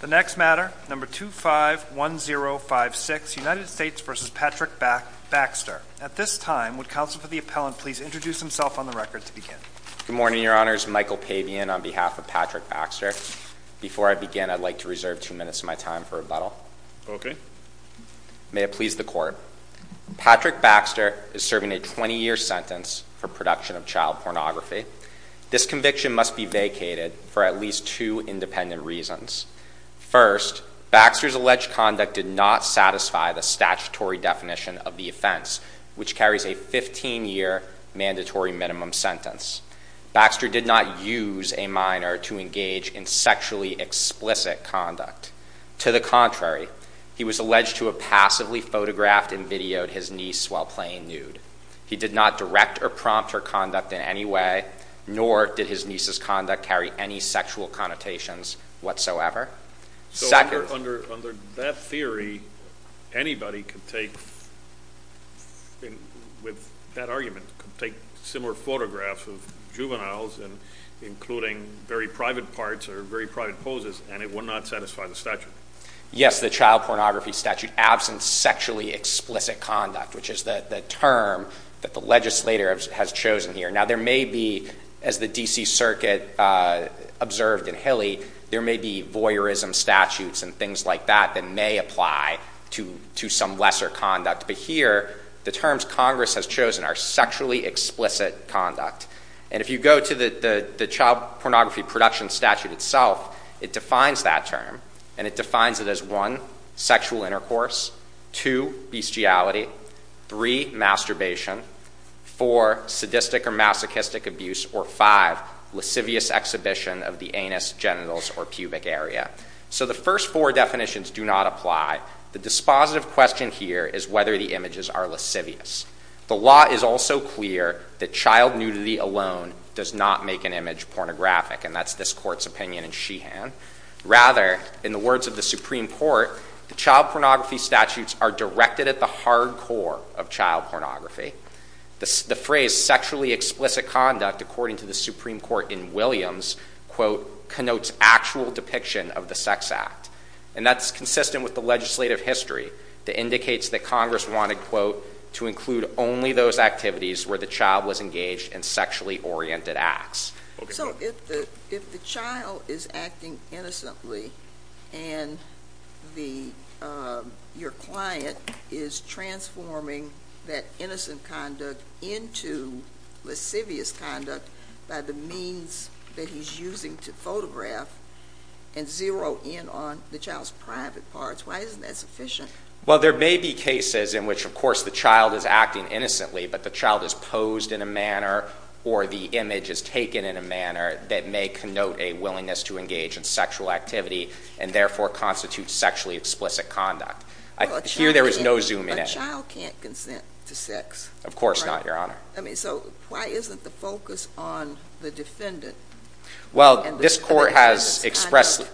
The next matter, number 251056, United States v. Patrick Baxter. At this time, would counsel for the appellant please introduce himself on the record to begin. Good morning, your honors. Michael Pavian on behalf of Patrick Baxter. Before I begin, I'd like to reserve two minutes of my time for rebuttal. Okay. May it please the court. Patrick Baxter is serving a 20 year sentence for production of child pornography. This conviction must be vacated for at least two independent reasons. First, Baxter's alleged conduct did not satisfy the statutory definition of the offense, which carries a 15 year mandatory minimum sentence. Baxter did not use a minor to engage in sexually explicit conduct. To the contrary, he was alleged to have passively photographed and videoed his niece while playing He did not direct or prompt her conduct in any way, nor did his niece's conduct carry any sexual connotations whatsoever. So under that theory, anybody could take, with that argument, could take similar photographs of juveniles, and including very private parts or very private poses, and it would not satisfy the statute. Yes, the child pornography statute absent sexually explicit conduct, which is the term that the legislator has chosen here. Now there may be, as the D.C. Circuit observed in Hilly, there may be voyeurism statutes and things like that that may apply to some lesser conduct. But here, the terms Congress has chosen are sexually explicit conduct. And if you go to the child pornography production statute itself, it defines that term, and it defines it as one, sexual intercourse, two, bestiality, three, masturbation, four, sadistic or masochistic abuse, or five, lascivious exhibition of the anus, genitals, or pubic area. So the first four definitions do not apply. The dispositive question here is whether the images are lascivious. The law is also clear that child nudity alone does not make an image pornographic, and that's this Court's opinion in Sheehan. Rather, in the words of the Supreme Court, the child pornography statutes are directed at the hard core of child pornography. The phrase sexually explicit conduct, according to the Supreme Court in Williams, connotes actual depiction of the sex act. And that's consistent with the legislative history that indicates that Congress wanted to include only those activities where the child was engaged in sexually oriented acts. So if the child is acting innocently and your client is transforming that innocent conduct into lascivious conduct by the means that he's using to photograph and zero in on the child's private parts, why isn't that sufficient? Well, there may be cases in which, of course, the child is acting innocently, but the child is posed in a manner or the image is taken in a manner that may connote a willingness to engage in sexual activity and therefore constitute sexually explicit conduct. Here there is no zooming in. A child can't consent to sex. Of course not, Your Honor. I mean, so why isn't the focus on the defendant? Well, this Court has expressly...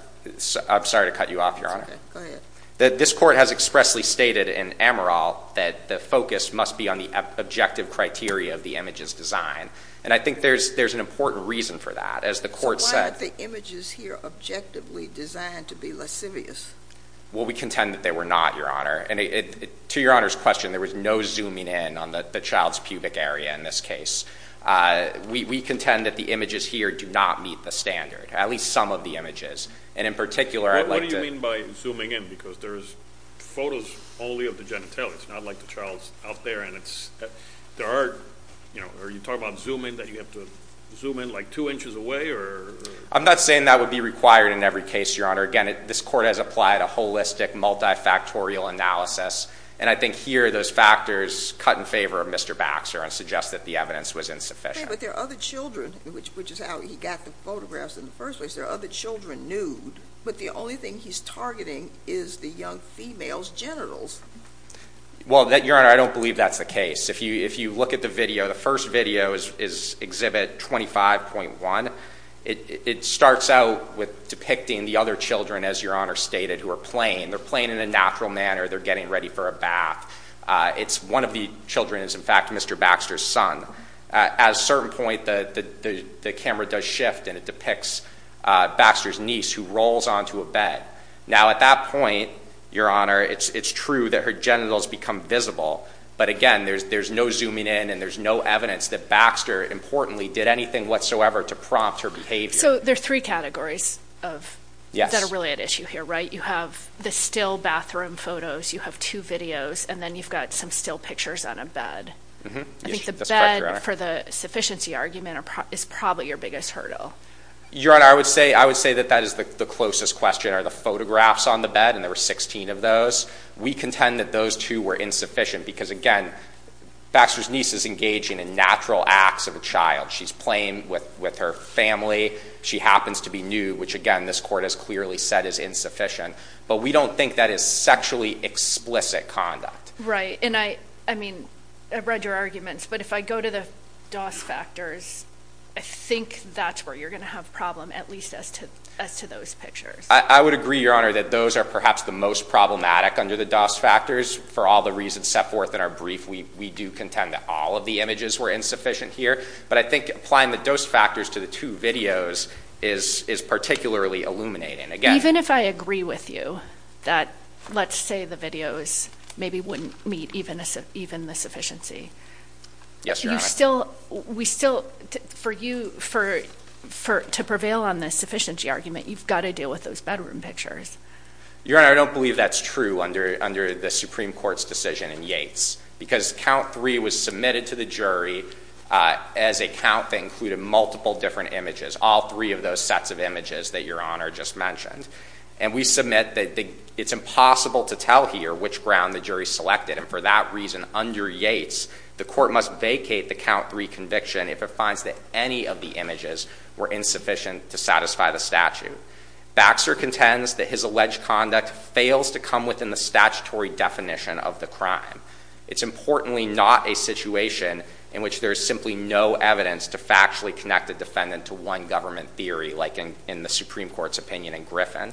I'm sorry to cut you off, Your Honor. It's okay. Go ahead. This Court has expressly stated in Amaral that the focus must be on the objective criteria of the image's design. And I think there's an important reason for that. As the Court said... So why are the images here objectively designed to be lascivious? Well, we contend that they were not, Your Honor. And to Your Honor's question, there was no zooming in on the child's pubic area in this case. We contend that the images here do not meet the standard, at least some of the images. And in particular, I'd like to... Because there's photos only of the genitalia. It's not like the child's out there and it's... There are, you know... Are you talking about zooming, that you have to zoom in like two inches away or...? I'm not saying that would be required in every case, Your Honor. Again, this Court has applied a holistic, multi-factorial analysis. And I think here those factors cut in favor of Mr. Baxter and suggest that the evidence was insufficient. But there are other children, which is how he got the photographs in the first place. There are other children nude. But the only thing he's targeting is the young female's genitals. Well, Your Honor, I don't believe that's the case. If you look at the video, the first video is Exhibit 25.1. It starts out with depicting the other children, as Your Honor stated, who are playing. They're playing in a natural manner. They're getting ready for a bath. It's one of the children is, in fact, Mr. Baxter's son. At a certain point, the camera does shift and it depicts Baxter's niece, who rolls onto a bed. Now, at that point, Your Honor, it's true that her genitals become visible. But again, there's no zooming in and there's no evidence that Baxter, importantly, did anything whatsoever to prompt her behavior. So there are three categories that are really at issue here, right? You have the still bathroom photos. You have two videos. And then you've got some still pictures on a bed. I think the bed, for the sufficiency argument, is probably your biggest hurdle. Your Honor, I would say that that is the closest question, are the photographs on the bed. And there were 16 of those. We contend that those two were insufficient because, again, Baxter's niece is engaging in natural acts of a child. She's playing with her family. She happens to be nude, which, again, this court has clearly said is insufficient. But we don't think that is sexually explicit conduct. Right. And I mean, I've read your arguments. But if I go to the DOS factors, I think that's where you're going to have a problem, at least as to those pictures. I would agree, Your Honor, that those are perhaps the most problematic under the DOS factors. For all the reasons set forth in our brief, we do contend that all of the images were insufficient here. But I think applying the DOS factors to the two videos is particularly illuminating. Again, even if I agree with you that let's say the videos maybe wouldn't meet even the Yes, Your Honor. We still, for you, to prevail on the sufficiency argument, you've got to deal with those bedroom pictures. Your Honor, I don't believe that's true under the Supreme Court's decision in Yates. Because count three was submitted to the jury as a count that included multiple different images, all three of those sets of images that Your Honor just mentioned. And we submit that it's impossible to tell here which ground the jury selected. And for that reason, under Yates, the court must vacate the count three conviction if it finds that any of the images were insufficient to satisfy the statute. Baxter contends that his alleged conduct fails to come within the statutory definition of the crime. It's importantly not a situation in which there's simply no evidence to factually connect the defendant to one government theory, like in the Supreme Court's opinion in Griffin.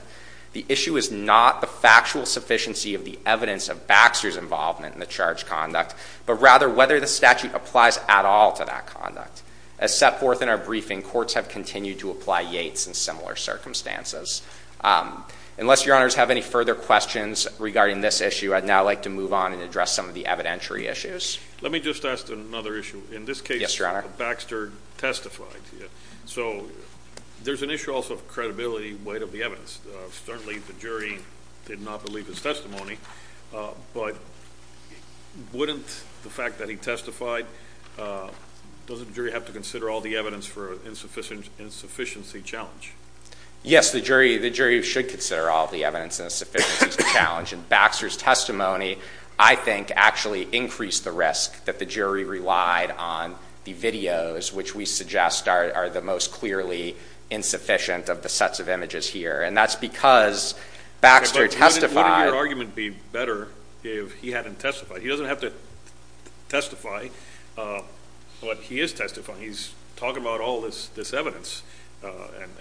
The issue is not the factual sufficiency of the evidence of Baxter's involvement in the charge conduct, but rather whether the statute applies at all to that conduct. As set forth in our briefing, courts have continued to apply Yates in similar circumstances. Unless Your Honors have any further questions regarding this issue, I'd now like to move on and address some of the evidentiary issues. Let me just ask another issue. In this case, Baxter testified. So there's an issue also of credibility weight of the evidence. Certainly, the jury did not believe his testimony. But wouldn't the fact that he testified, doesn't the jury have to consider all the evidence for insufficiency challenge? Yes, the jury should consider all the evidence in a sufficiency challenge. And Baxter's testimony, I think, actually increased the risk that the jury relied on the videos, which we suggest are the most clearly insufficient of the sets of images here. And that's because Baxter testified. Wouldn't your argument be better if he hadn't testified? He doesn't have to testify, but he is testifying. He's talking about all this evidence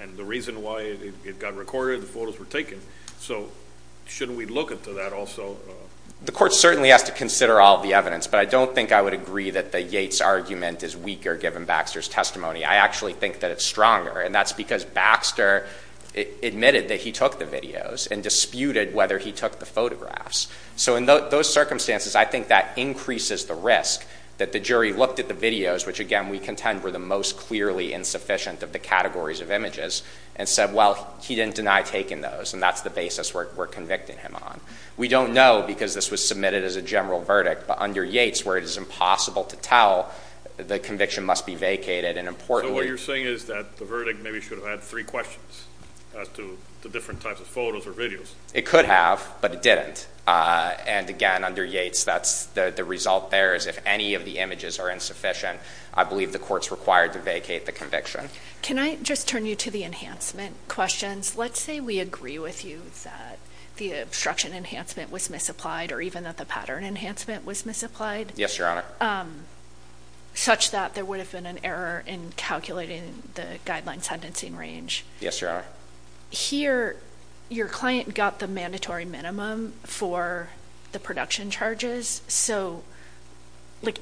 and the reason why it got recorded, the photos were taken. So shouldn't we look into that also? The court certainly has to consider all the evidence. But I don't think I would agree that the Yates argument is weaker given Baxter's testimony. I actually think that it's stronger. And that's because Baxter admitted that he took the videos and disputed whether he took the photographs. So in those circumstances, I think that increases the risk that the jury looked at the videos, which, again, we contend were the most clearly insufficient of the categories of images, and said, well, he didn't deny taking those. And that's the basis we're convicting him on. We don't know because this was submitted as a general verdict. But under Yates, where it is impossible to tell, the conviction must be vacated. And importantly— So what you're saying is that the verdict maybe should have had three questions as to the different types of photos or videos? It could have, but it didn't. And again, under Yates, that's the result there is if any of the images are insufficient, I believe the court's required to vacate the conviction. Can I just turn you to the enhancement questions? Let's say we agree with you that the obstruction enhancement was misapplied, or even that the pattern enhancement was misapplied. Yes, Your Honor. Such that there would have been an error in calculating the guideline sentencing range. Yes, Your Honor. Here, your client got the mandatory minimum for the production charges. So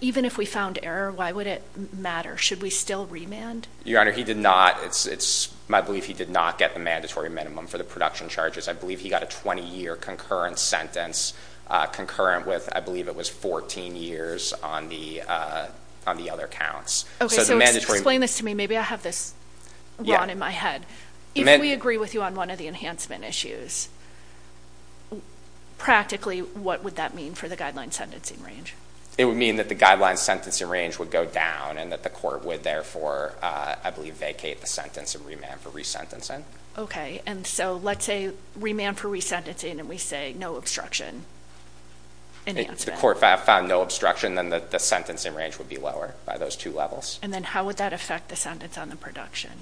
even if we found error, why would it matter? Should we still remand? Your Honor, he did not. My belief, he did not get the mandatory minimum for the production charges. I believe he got a 20-year concurrent sentence, concurrent with, I believe it was 14 years on the other counts. OK, so explain this to me. Maybe I have this wrong in my head. If we agree with you on one of the enhancement issues, practically, what would that mean for the guideline sentencing range? It would mean that the guideline sentencing range would go down, and that the court would therefore, I believe, vacate the sentence and remand for resentencing. OK, and so let's say remand for resentencing, and we say no obstruction. If the court found no obstruction, then the sentencing range would be lower by those two levels. And then how would that affect the sentence on the production?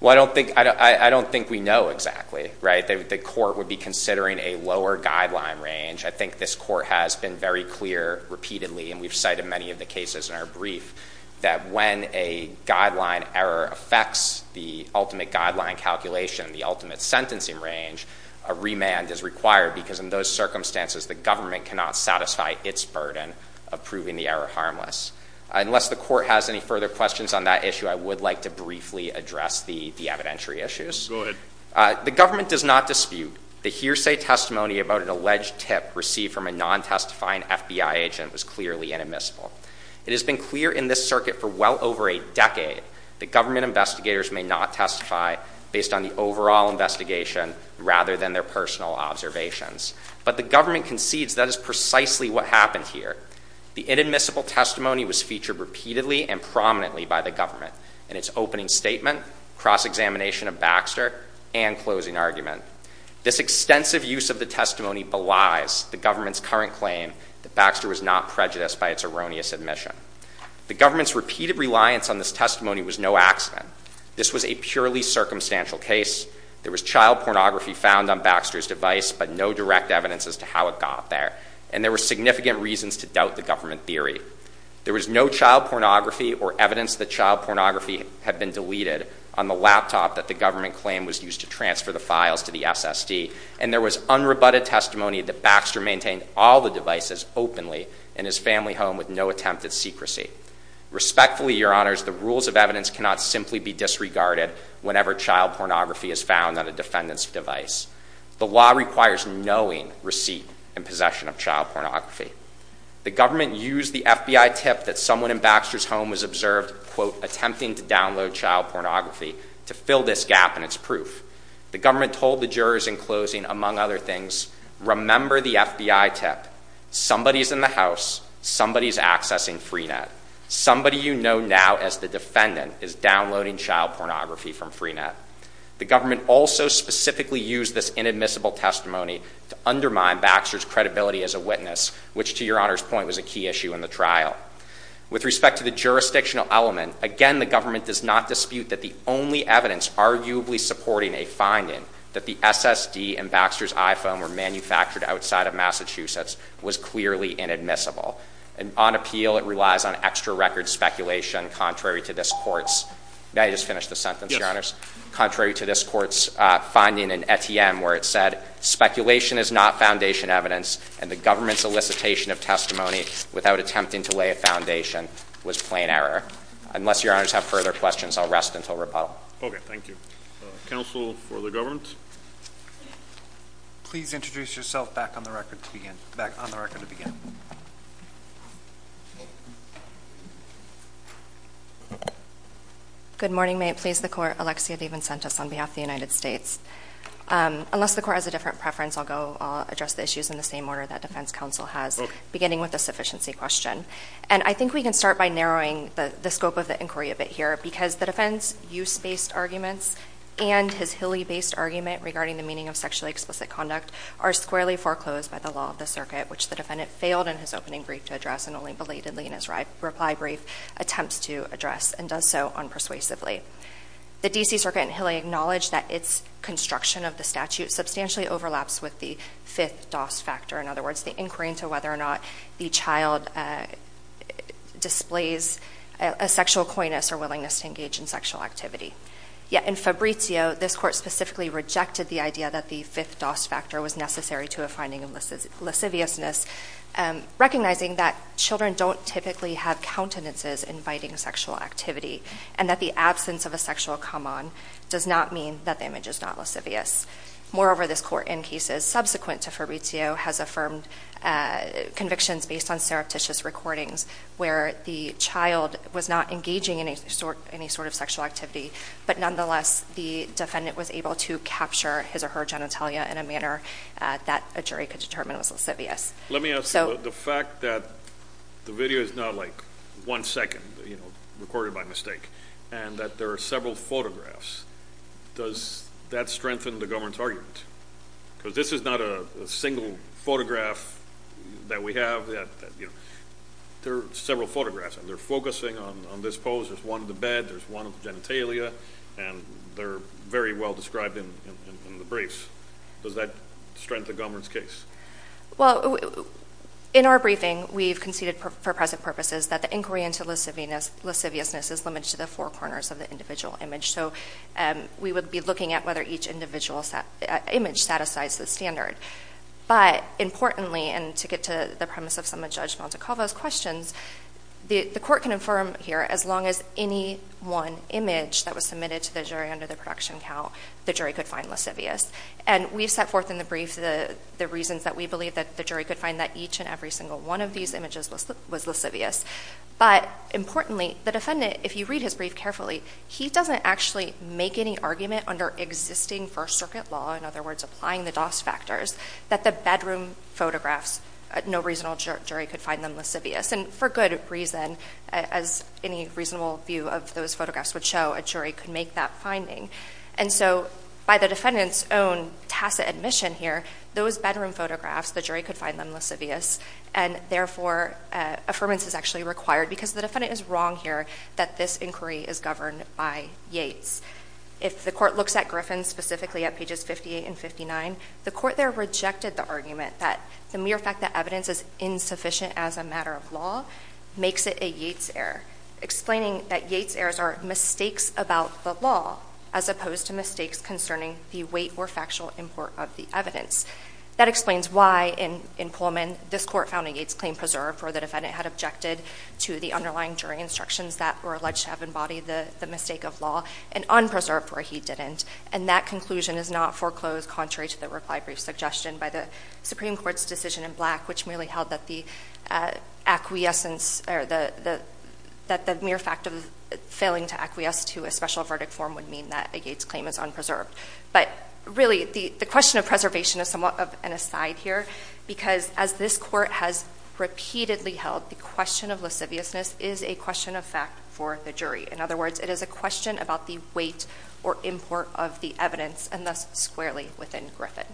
Well, I don't think we know exactly, right? The court would be considering a lower guideline range. I think this court has been very clear repeatedly, and we've cited many of the cases in our brief. That when a guideline error affects the ultimate guideline calculation, the ultimate sentencing range, a remand is required. Because in those circumstances, the government cannot satisfy its burden of proving the error harmless. Unless the court has any further questions on that issue, I would like to briefly address the evidentiary issues. The government does not dispute the hearsay testimony about an alleged tip received from a non-testifying FBI agent was clearly inadmissible. It has been clear in this circuit for well over a decade that government investigators may not testify based on the overall investigation rather than their personal observations. But the government concedes that is precisely what happened here. The inadmissible testimony was featured repeatedly and prominently by the government in its opening statement, cross-examination of Baxter, and closing argument. This extensive use of the testimony belies the government's current claim that Baxter was not prejudiced by its erroneous admission. The government's repeated reliance on this testimony was no accident. This was a purely circumstantial case. There was child pornography found on Baxter's device, but no direct evidence as to how it got there. And there were significant reasons to doubt the government theory. There was no child pornography or evidence that child pornography had been deleted on the laptop that the government claimed was used to transfer the files to the SSD. And there was unrebutted testimony that Baxter maintained all the devices openly in his family home with no attempt at secrecy. Respectfully, your honors, the rules of evidence cannot simply be disregarded whenever child pornography is found on a defendant's device. The law requires knowing receipt and possession of child pornography. The government used the FBI tip that someone in Baxter's home was observed, quote, attempting to download child pornography to fill this gap in its proof. The government told the jurors in closing, among other things, remember the FBI tip. Somebody's in the house. Somebody's accessing Freenet. Somebody you know now as the defendant is downloading child pornography from Freenet. The government also specifically used this inadmissible testimony to undermine Baxter's credibility as a witness, which to your honor's point was a key issue in the trial. With respect to the jurisdictional element, again, the government does not dispute that the only evidence arguably supporting a finding that the SSD and Baxter's iPhone were manufactured outside of Massachusetts was clearly inadmissible. And on appeal, it relies on extra record speculation contrary to this court's. May I just finish the sentence, your honors? Contrary to this court's finding in ETM where it said, speculation is not foundation evidence. And the government's elicitation of testimony without attempting to lay a foundation was plain error. Unless your honors have further questions, I'll rest until rebuttal. Okay. Thank you. Counsel for the government. Please introduce yourself back on the record to begin. Back on the record to begin. Good morning, may it please the court. Alexia DeVincentis on behalf of the United States. Unless the court has a different preference, I'll go. I'll address the issues in the same order that defense counsel has, beginning with the sufficiency question. And I think we can start by narrowing the scope of the inquiry a bit here because the defense use-based arguments and his Hilly-based argument regarding the meaning of sexually explicit conduct are squarely foreclosed by the law of the circuit, which the defendant failed in his opening brief to address and only belatedly in his reply brief attempts to address and does so unpersuasively. The D.C. Circuit in Hilly acknowledged that its construction of the statute substantially overlaps with the fifth DOS factor. In other words, the inquiry into whether or not the child displays a sexual coyness or willingness to engage in sexual activity. Yet in Fabrizio, this court specifically rejected the idea that the fifth DOS factor was necessary to a finding of lasciviousness, recognizing that children don't typically have countenances inviting sexual activity and that the absence of a sexual come-on does not mean that the image is not lascivious. Moreover, this court in cases subsequent to Fabrizio has affirmed convictions based on surreptitious recordings where the child was not engaging in any sort of sexual activity, but nonetheless the defendant was able to capture his or her genitalia in a manner that a jury could determine was lascivious. Let me ask you, the fact that the video is not like one second, you know, recorded by mistake, and that there are several photographs, does that strengthen the government's argument? Because this is not a single photograph that we have. There are several photographs, and they're focusing on this pose. There's one of the bed, there's one of the genitalia, and they're very well described in the briefs. Does that strengthen government's case? Well, in our briefing, we've conceded for present purposes that the inquiry into lasciviousness is limited to the four corners of the individual image. We would be looking at whether each individual image satisfies the standard. But importantly, and to get to the premise of some of Judge Montecalvo's questions, the court can affirm here as long as any one image that was submitted to the jury under the production count, the jury could find lascivious. And we've set forth in the brief the reasons that we believe that the jury could find that each and every single one of these images was lascivious. But importantly, the defendant, if you read his brief carefully, he doesn't actually make any argument under existing First Circuit law, in other words, applying the DOS factors, that the bedroom photographs, no reasonable jury could find them lascivious. And for good reason, as any reasonable view of those photographs would show, a jury could make that finding. And so by the defendant's own tacit admission here, those bedroom photographs, the jury could find them lascivious. And therefore, affirmance is actually required because the defendant is wrong here that this inquiry is governed by Yates. If the court looks at Griffin, specifically at pages 58 and 59, the court there rejected the argument that the mere fact that evidence is insufficient as a matter of law makes it a Yates error, explaining that Yates errors are mistakes about the law as opposed to mistakes concerning the weight or factual import of the evidence. That explains why in Pullman, this court found a Yates claim preserved for the defendant had objected to the underlying jury instructions that were alleged to have embodied the mistake of law and unpreserved where he didn't. And that conclusion is not foreclosed contrary to the reply brief suggestion by the Supreme Court's decision in Black, which merely held that the mere fact of failing to acquiesce to a special verdict form would mean that a Yates claim is unpreserved. But really, the question of preservation is somewhat of an aside here, because as this court has repeatedly held, the question of lasciviousness is a question of fact for the jury. In other words, it is a question about the weight or import of the evidence, and thus squarely within Griffin.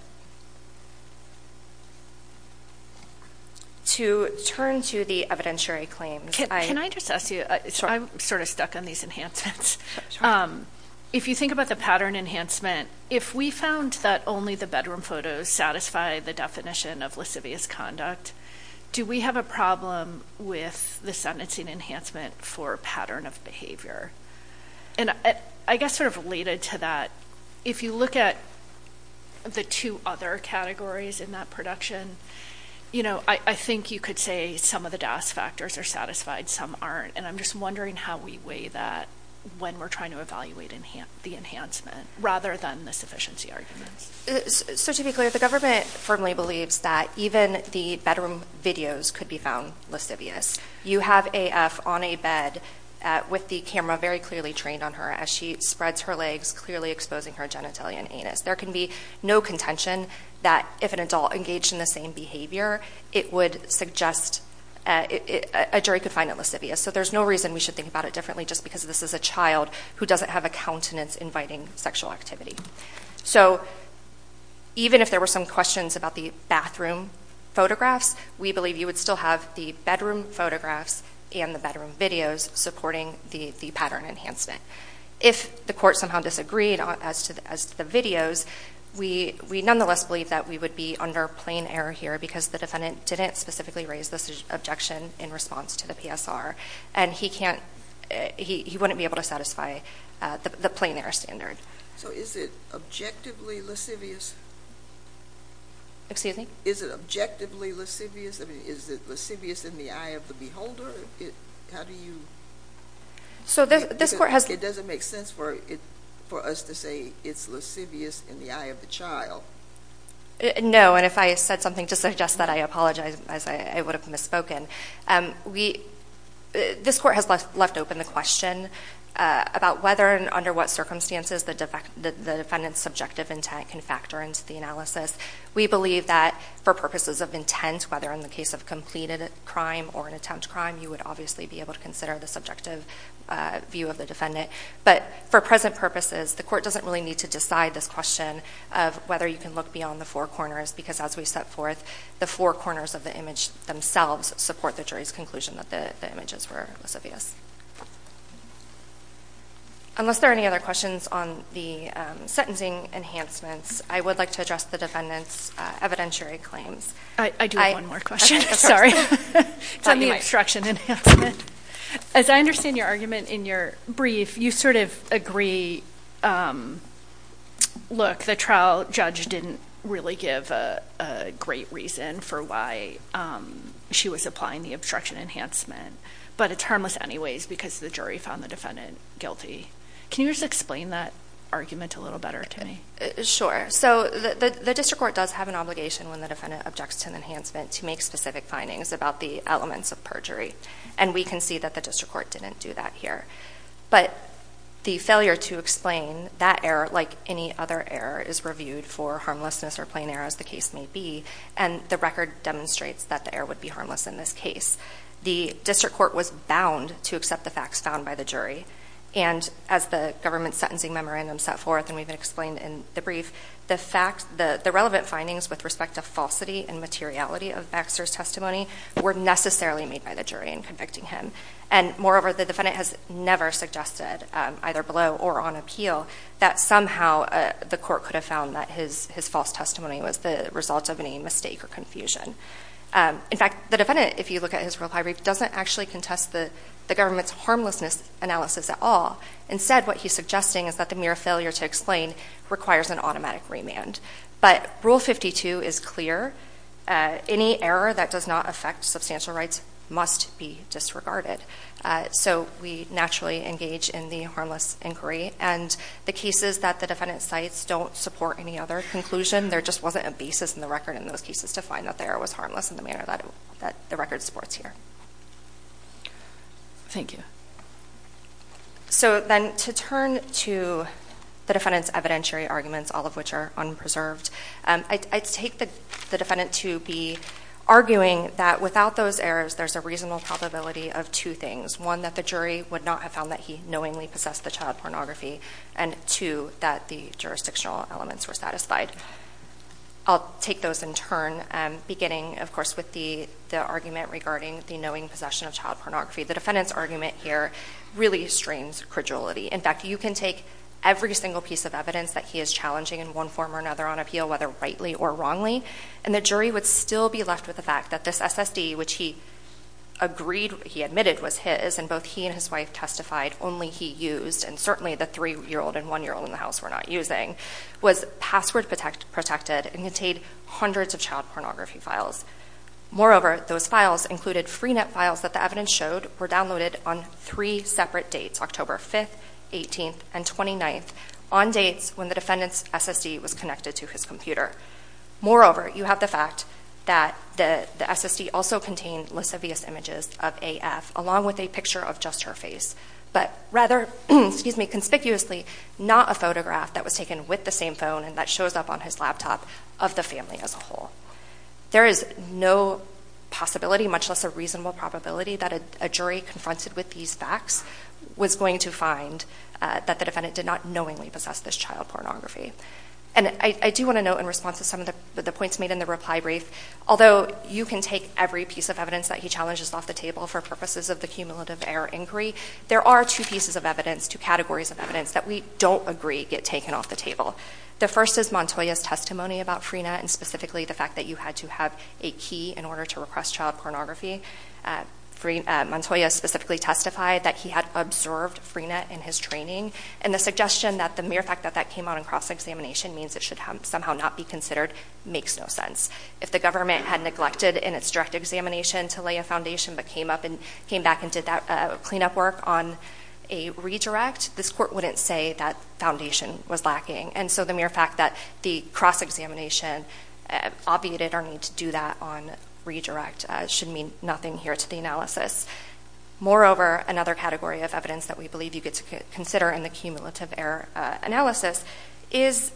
To turn to the evidentiary claims, I- Can I just ask you, I'm sort of stuck on these enhancements. If you think about the pattern enhancement, if we found that only the bedroom photos satisfy the definition of lascivious conduct, do we have a problem with the sentencing enhancement for pattern of behavior? And I guess sort of related to that, if you look at the two other categories in that production, you know, I think you could say some of the DAS factors are satisfied, some aren't. And I'm just wondering how we weigh that when we're trying to evaluate the enhancement, rather than the sufficiency arguments. So to be clear, the government firmly believes that even the bedroom videos could be found lascivious. You have AF on a bed with the camera very clearly trained on her as she spreads her legs, clearly exposing her genitalia and anus. There can be no contention that if an adult engaged in the same behavior, it would suggest a jury could find it lascivious. So there's no reason we should think about it differently, just because this is a child who doesn't have a countenance inviting sexual activity. So even if there were some questions about the bathroom photographs, we believe you would still have the bedroom photographs and the bedroom videos supporting the pattern enhancement. If the court somehow disagreed as to the videos, we nonetheless believe that we would be under plain error here because the defendant didn't specifically raise this objection in response to the PSR. And he wouldn't be able to satisfy the plain error standard. So is it objectively lascivious? Excuse me? Is it objectively lascivious? Is it lascivious in the eye of the beholder? How do you... So this court has... It doesn't make sense for us to say it's lascivious in the eye of the child. No, and if I said something to suggest that, I apologize as I would have misspoken. This court has left open the question about whether and under what circumstances the defendant's subjective intent can factor into the analysis. We believe that for purposes of intent, whether in the case of completed crime or an attempt crime, you would obviously be able to consider the subjective view of the defendant. But for present purposes, the court doesn't really need to decide this question of whether you can look beyond the four corners because as we set forth, the four corners of the image themselves support the jury's conclusion that the images were lascivious. Unless there are any other questions on the sentencing enhancements, I would like to address the defendant's evidentiary claims. I do have one more question. Tell me about the obstruction enhancement. As I understand your argument in your brief, you sort of agree, look, the trial judge didn't really give a great reason for why she was applying the obstruction enhancement, but it's harmless anyway. Because the jury found the defendant guilty. Can you just explain that argument a little better to me? So the district court does have an obligation when the defendant objects to an enhancement to make specific findings about the elements of perjury. And we can see that the district court didn't do that here. But the failure to explain that error like any other error is reviewed for harmlessness or plain error as the case may be. And the record demonstrates that the error would be harmless in this case. The district court was bound to accept the facts found by the jury. And as the government sentencing memorandum set forth, and we've explained in the brief, the fact, the relevant findings with respect to falsity and materiality of Baxter's testimony were necessarily made by the jury in convicting him. And moreover, the defendant has never suggested either below or on appeal that somehow the court could have found that his false testimony was the result of any mistake or confusion. In fact, the defendant, if you look at his rule 5 brief, doesn't actually contest the government's harmlessness analysis at all. Instead, what he's suggesting is that the mere failure to explain requires an automatic remand. But rule 52 is clear. Any error that does not affect substantial rights must be disregarded. So we naturally engage in the harmless inquiry. And the cases that the defendant cites don't support any other conclusion. There just wasn't a basis in the record in those cases to find that the error was harmless in the manner that the record supports here. Thank you. So then to turn to the defendant's evidentiary arguments, all of which are unpreserved, I'd take the defendant to be arguing that without those errors, there's a reasonable probability of two things. One, that the jury would not have found that he knowingly possessed the child pornography. And two, that the jurisdictional elements were satisfied. I'll take those in turn, beginning, of course, with the argument regarding the knowing possession of child pornography. The defendant's argument here really strains credulity. In fact, you can take every single piece of evidence that he is challenging in one form or another on appeal, whether rightly or wrongly. And the jury would still be left with the fact that this SSD, which he admitted was his, and both he and his wife testified only he used, and certainly the three-year-old and one-year-old in the house were not using, was password protected and contained hundreds of child pornography files. Moreover, those files included free net files that the evidence showed were downloaded on three separate dates, October 5th, 18th, and 29th, on dates when the defendant's SSD was connected to his computer. Moreover, you have the fact that the SSD also contained lascivious images of AF, along with a picture of just her face. But rather, excuse me, conspicuously, not a photograph that was taken with the same phone and that shows up on his laptop of the family as a whole. There is no possibility, much less a reasonable probability, that a jury confronted with these facts was going to find that the defendant did not knowingly possess this child pornography. And I do want to note in response to some of the points made in the reply brief, although you can take every piece of evidence that he challenges off the table for purposes of the cumulative error inquiry, there are two pieces of evidence, two categories of evidence, that we don't agree get taken off the table. The first is Montoya's testimony about Freenet, and specifically the fact that you had to have a key in order to request child pornography. Montoya specifically testified that he had observed Freenet in his training, and the suggestion that the mere fact that that came out in cross-examination means it should somehow not be considered makes no sense. If the government had neglected in its direct examination to lay a foundation, but came back and did that cleanup work on a redirect, this court wouldn't say that foundation was lacking. The mere fact that the cross-examination obviated our need to do that on redirect should mean nothing here to the analysis. Moreover, another category of evidence that we believe you get to consider in the cumulative error analysis is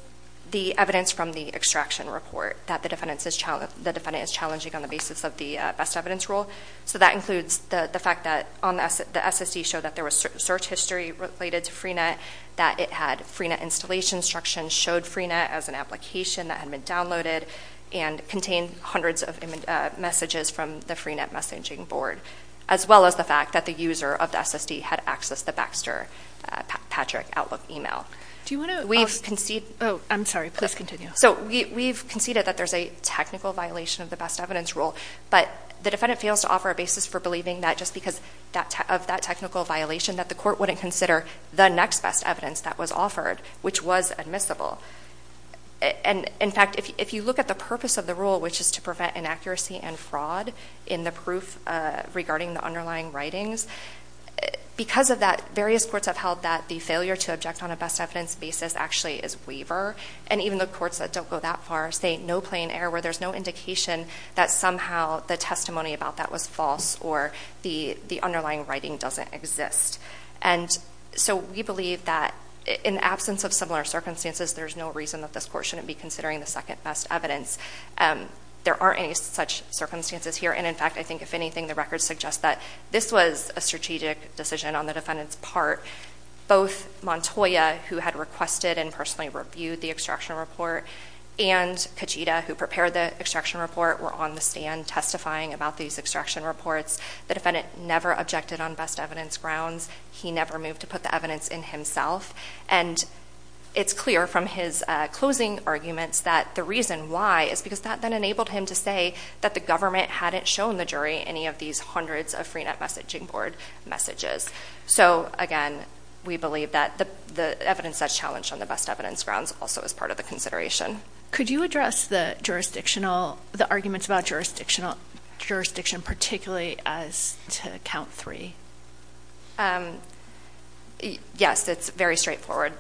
the evidence from the extraction report that the defendant is challenging on the basis of the best evidence rule. That includes the fact that the SSE showed that there was search history related to Freenet, that it had Freenet installation instructions, showed Freenet as an application that had been downloaded, and contained hundreds of messages from the Freenet messaging board, as well as the fact that the user of the SSD had accessed the Baxter-Patrick Outlook email. I'm sorry, please continue. So we've conceded that there's a technical violation of the best evidence rule, but the defendant fails to offer a basis for believing that just because of that technical violation that the court wouldn't consider the next best evidence that was offered, which was admissible. And in fact, if you look at the purpose of the rule, which is to prevent inaccuracy and fraud in the proof regarding the underlying writings, because of that, various courts have held that the failure to object on a best evidence basis actually is waiver, and even the courts that don't go that far say no plain error, where there's no indication that somehow the testimony about that was false or the underlying writing doesn't exist. And so we believe that in absence of similar circumstances, there's no reason that this court shouldn't be considering the second best evidence. There aren't any such circumstances here. And in fact, I think if anything, the records suggest that this was a strategic decision on the defendant's part. Both Montoya, who had requested and personally reviewed the extraction report, and Kajita, who prepared the extraction report, were on the stand testifying about these extraction reports. The defendant never objected on best evidence grounds. He never moved to put the evidence in himself. And it's clear from his closing arguments that the reason why is because that then enabled him to say that the government hadn't shown the jury any of these hundreds of Freenet Messaging Board messages. So again, we believe that the evidence that's challenged on the best evidence grounds also is part of the consideration. Could you address the jurisdictional, the arguments about jurisdiction, particularly as to count three? Yes, it's very straightforward.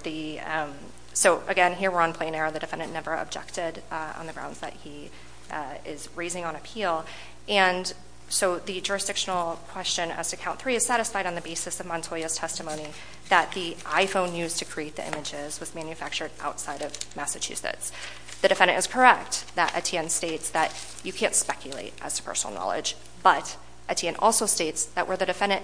So again, here we're on plain error. The defendant never objected on the grounds that he is raising on appeal. And so the jurisdictional question as to count three is satisfied on the basis of Montoya's testimony that the iPhone used to create the images was manufactured outside of Massachusetts. The defendant is correct that Etienne states that you can't speculate as to personal knowledge. But Etienne also states that where the defendant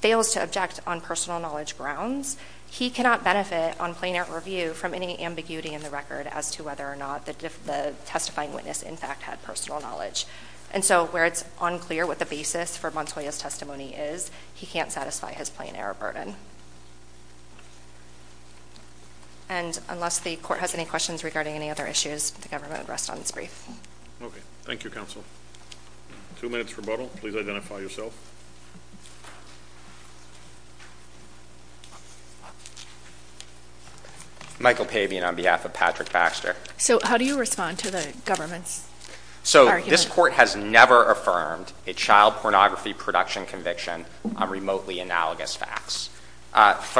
fails to object on personal knowledge grounds, he cannot benefit on plain error review from any ambiguity in the record as to whether or not the testifying witness in fact had personal knowledge. And so where it's unclear what the basis for Montoya's testimony is, he can't satisfy his plain error burden. And unless the court has any questions regarding any other issues, the government would rest on its brief. Okay. Thank you, counsel. Two minutes rebuttal. Please identify yourself. Michael Pabian on behalf of Patrick Baxter. So how do you respond to the government's argument? So this court has never affirmed a child pornography production conviction on remotely analogous facts.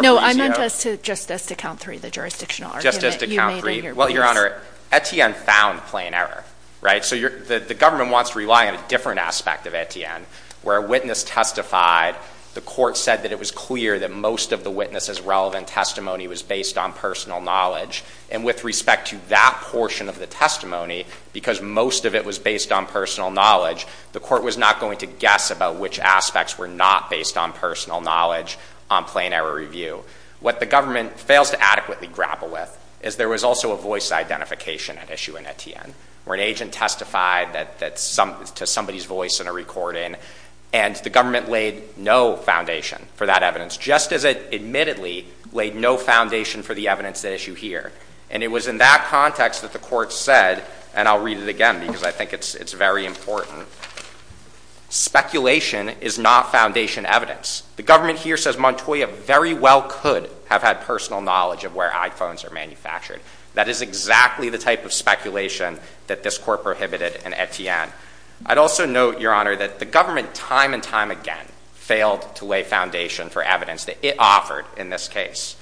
No, I meant just as to count three, the jurisdictional argument. Just as to count three. Well, Your Honor, Etienne found plain error, right? So the government wants to rely on a different aspect of Etienne. Where a witness testified, the court said that it was clear that most of the witness's relevant testimony was based on personal knowledge. And with respect to that portion of the testimony, because most of it was based on personal knowledge, the court was not going to guess about which aspects were not based on personal knowledge on plain error review. What the government fails to adequately grapple with is there was also a voice identification at issue in Etienne, where an agent testified to somebody's voice in a recording and the government laid no foundation for that evidence, just as it admittedly laid no foundation for the evidence at issue here. And it was in that context that the court said, and I'll read it again because I think it's very important. Speculation is not foundation evidence. The government here says Montoya very well could have had personal knowledge of where iPhones are manufactured. That is exactly the type of speculation that this court prohibited in Etienne. I'd also note, Your Honor, that the government time and time again failed to lay foundation for evidence that it offered in this case.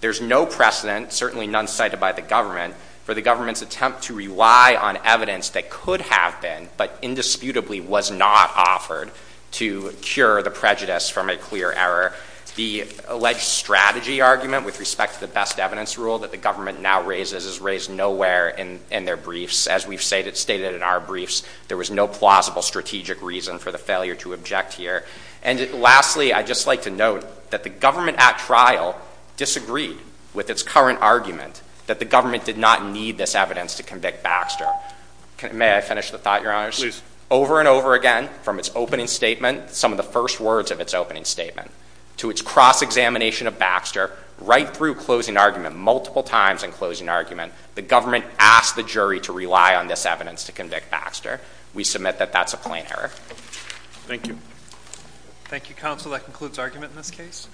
There's no precedent, certainly none cited by the government, for the government's attempt to rely on evidence that could have been, but indisputably was not offered to cure the prejudice from a clear error. The alleged strategy argument with respect to the best evidence rule that the government now raises is raised nowhere in their briefs. As we've stated in our briefs, there was no plausible strategic reason for the failure to object here. And lastly, I'd just like to note that the government at trial disagreed with its current argument that the government did not need this evidence to convict Baxter. May I finish the thought, Your Honors? Please. Over and over again, from its opening statement, some of the first words of its opening statement, to its cross-examination of Baxter, right through closing argument, multiple times in closing argument, the government asked the jury to rely on this evidence to convict Baxter. We submit that that's a plain error. Thank you. Thank you, Counsel. That concludes argument in this case.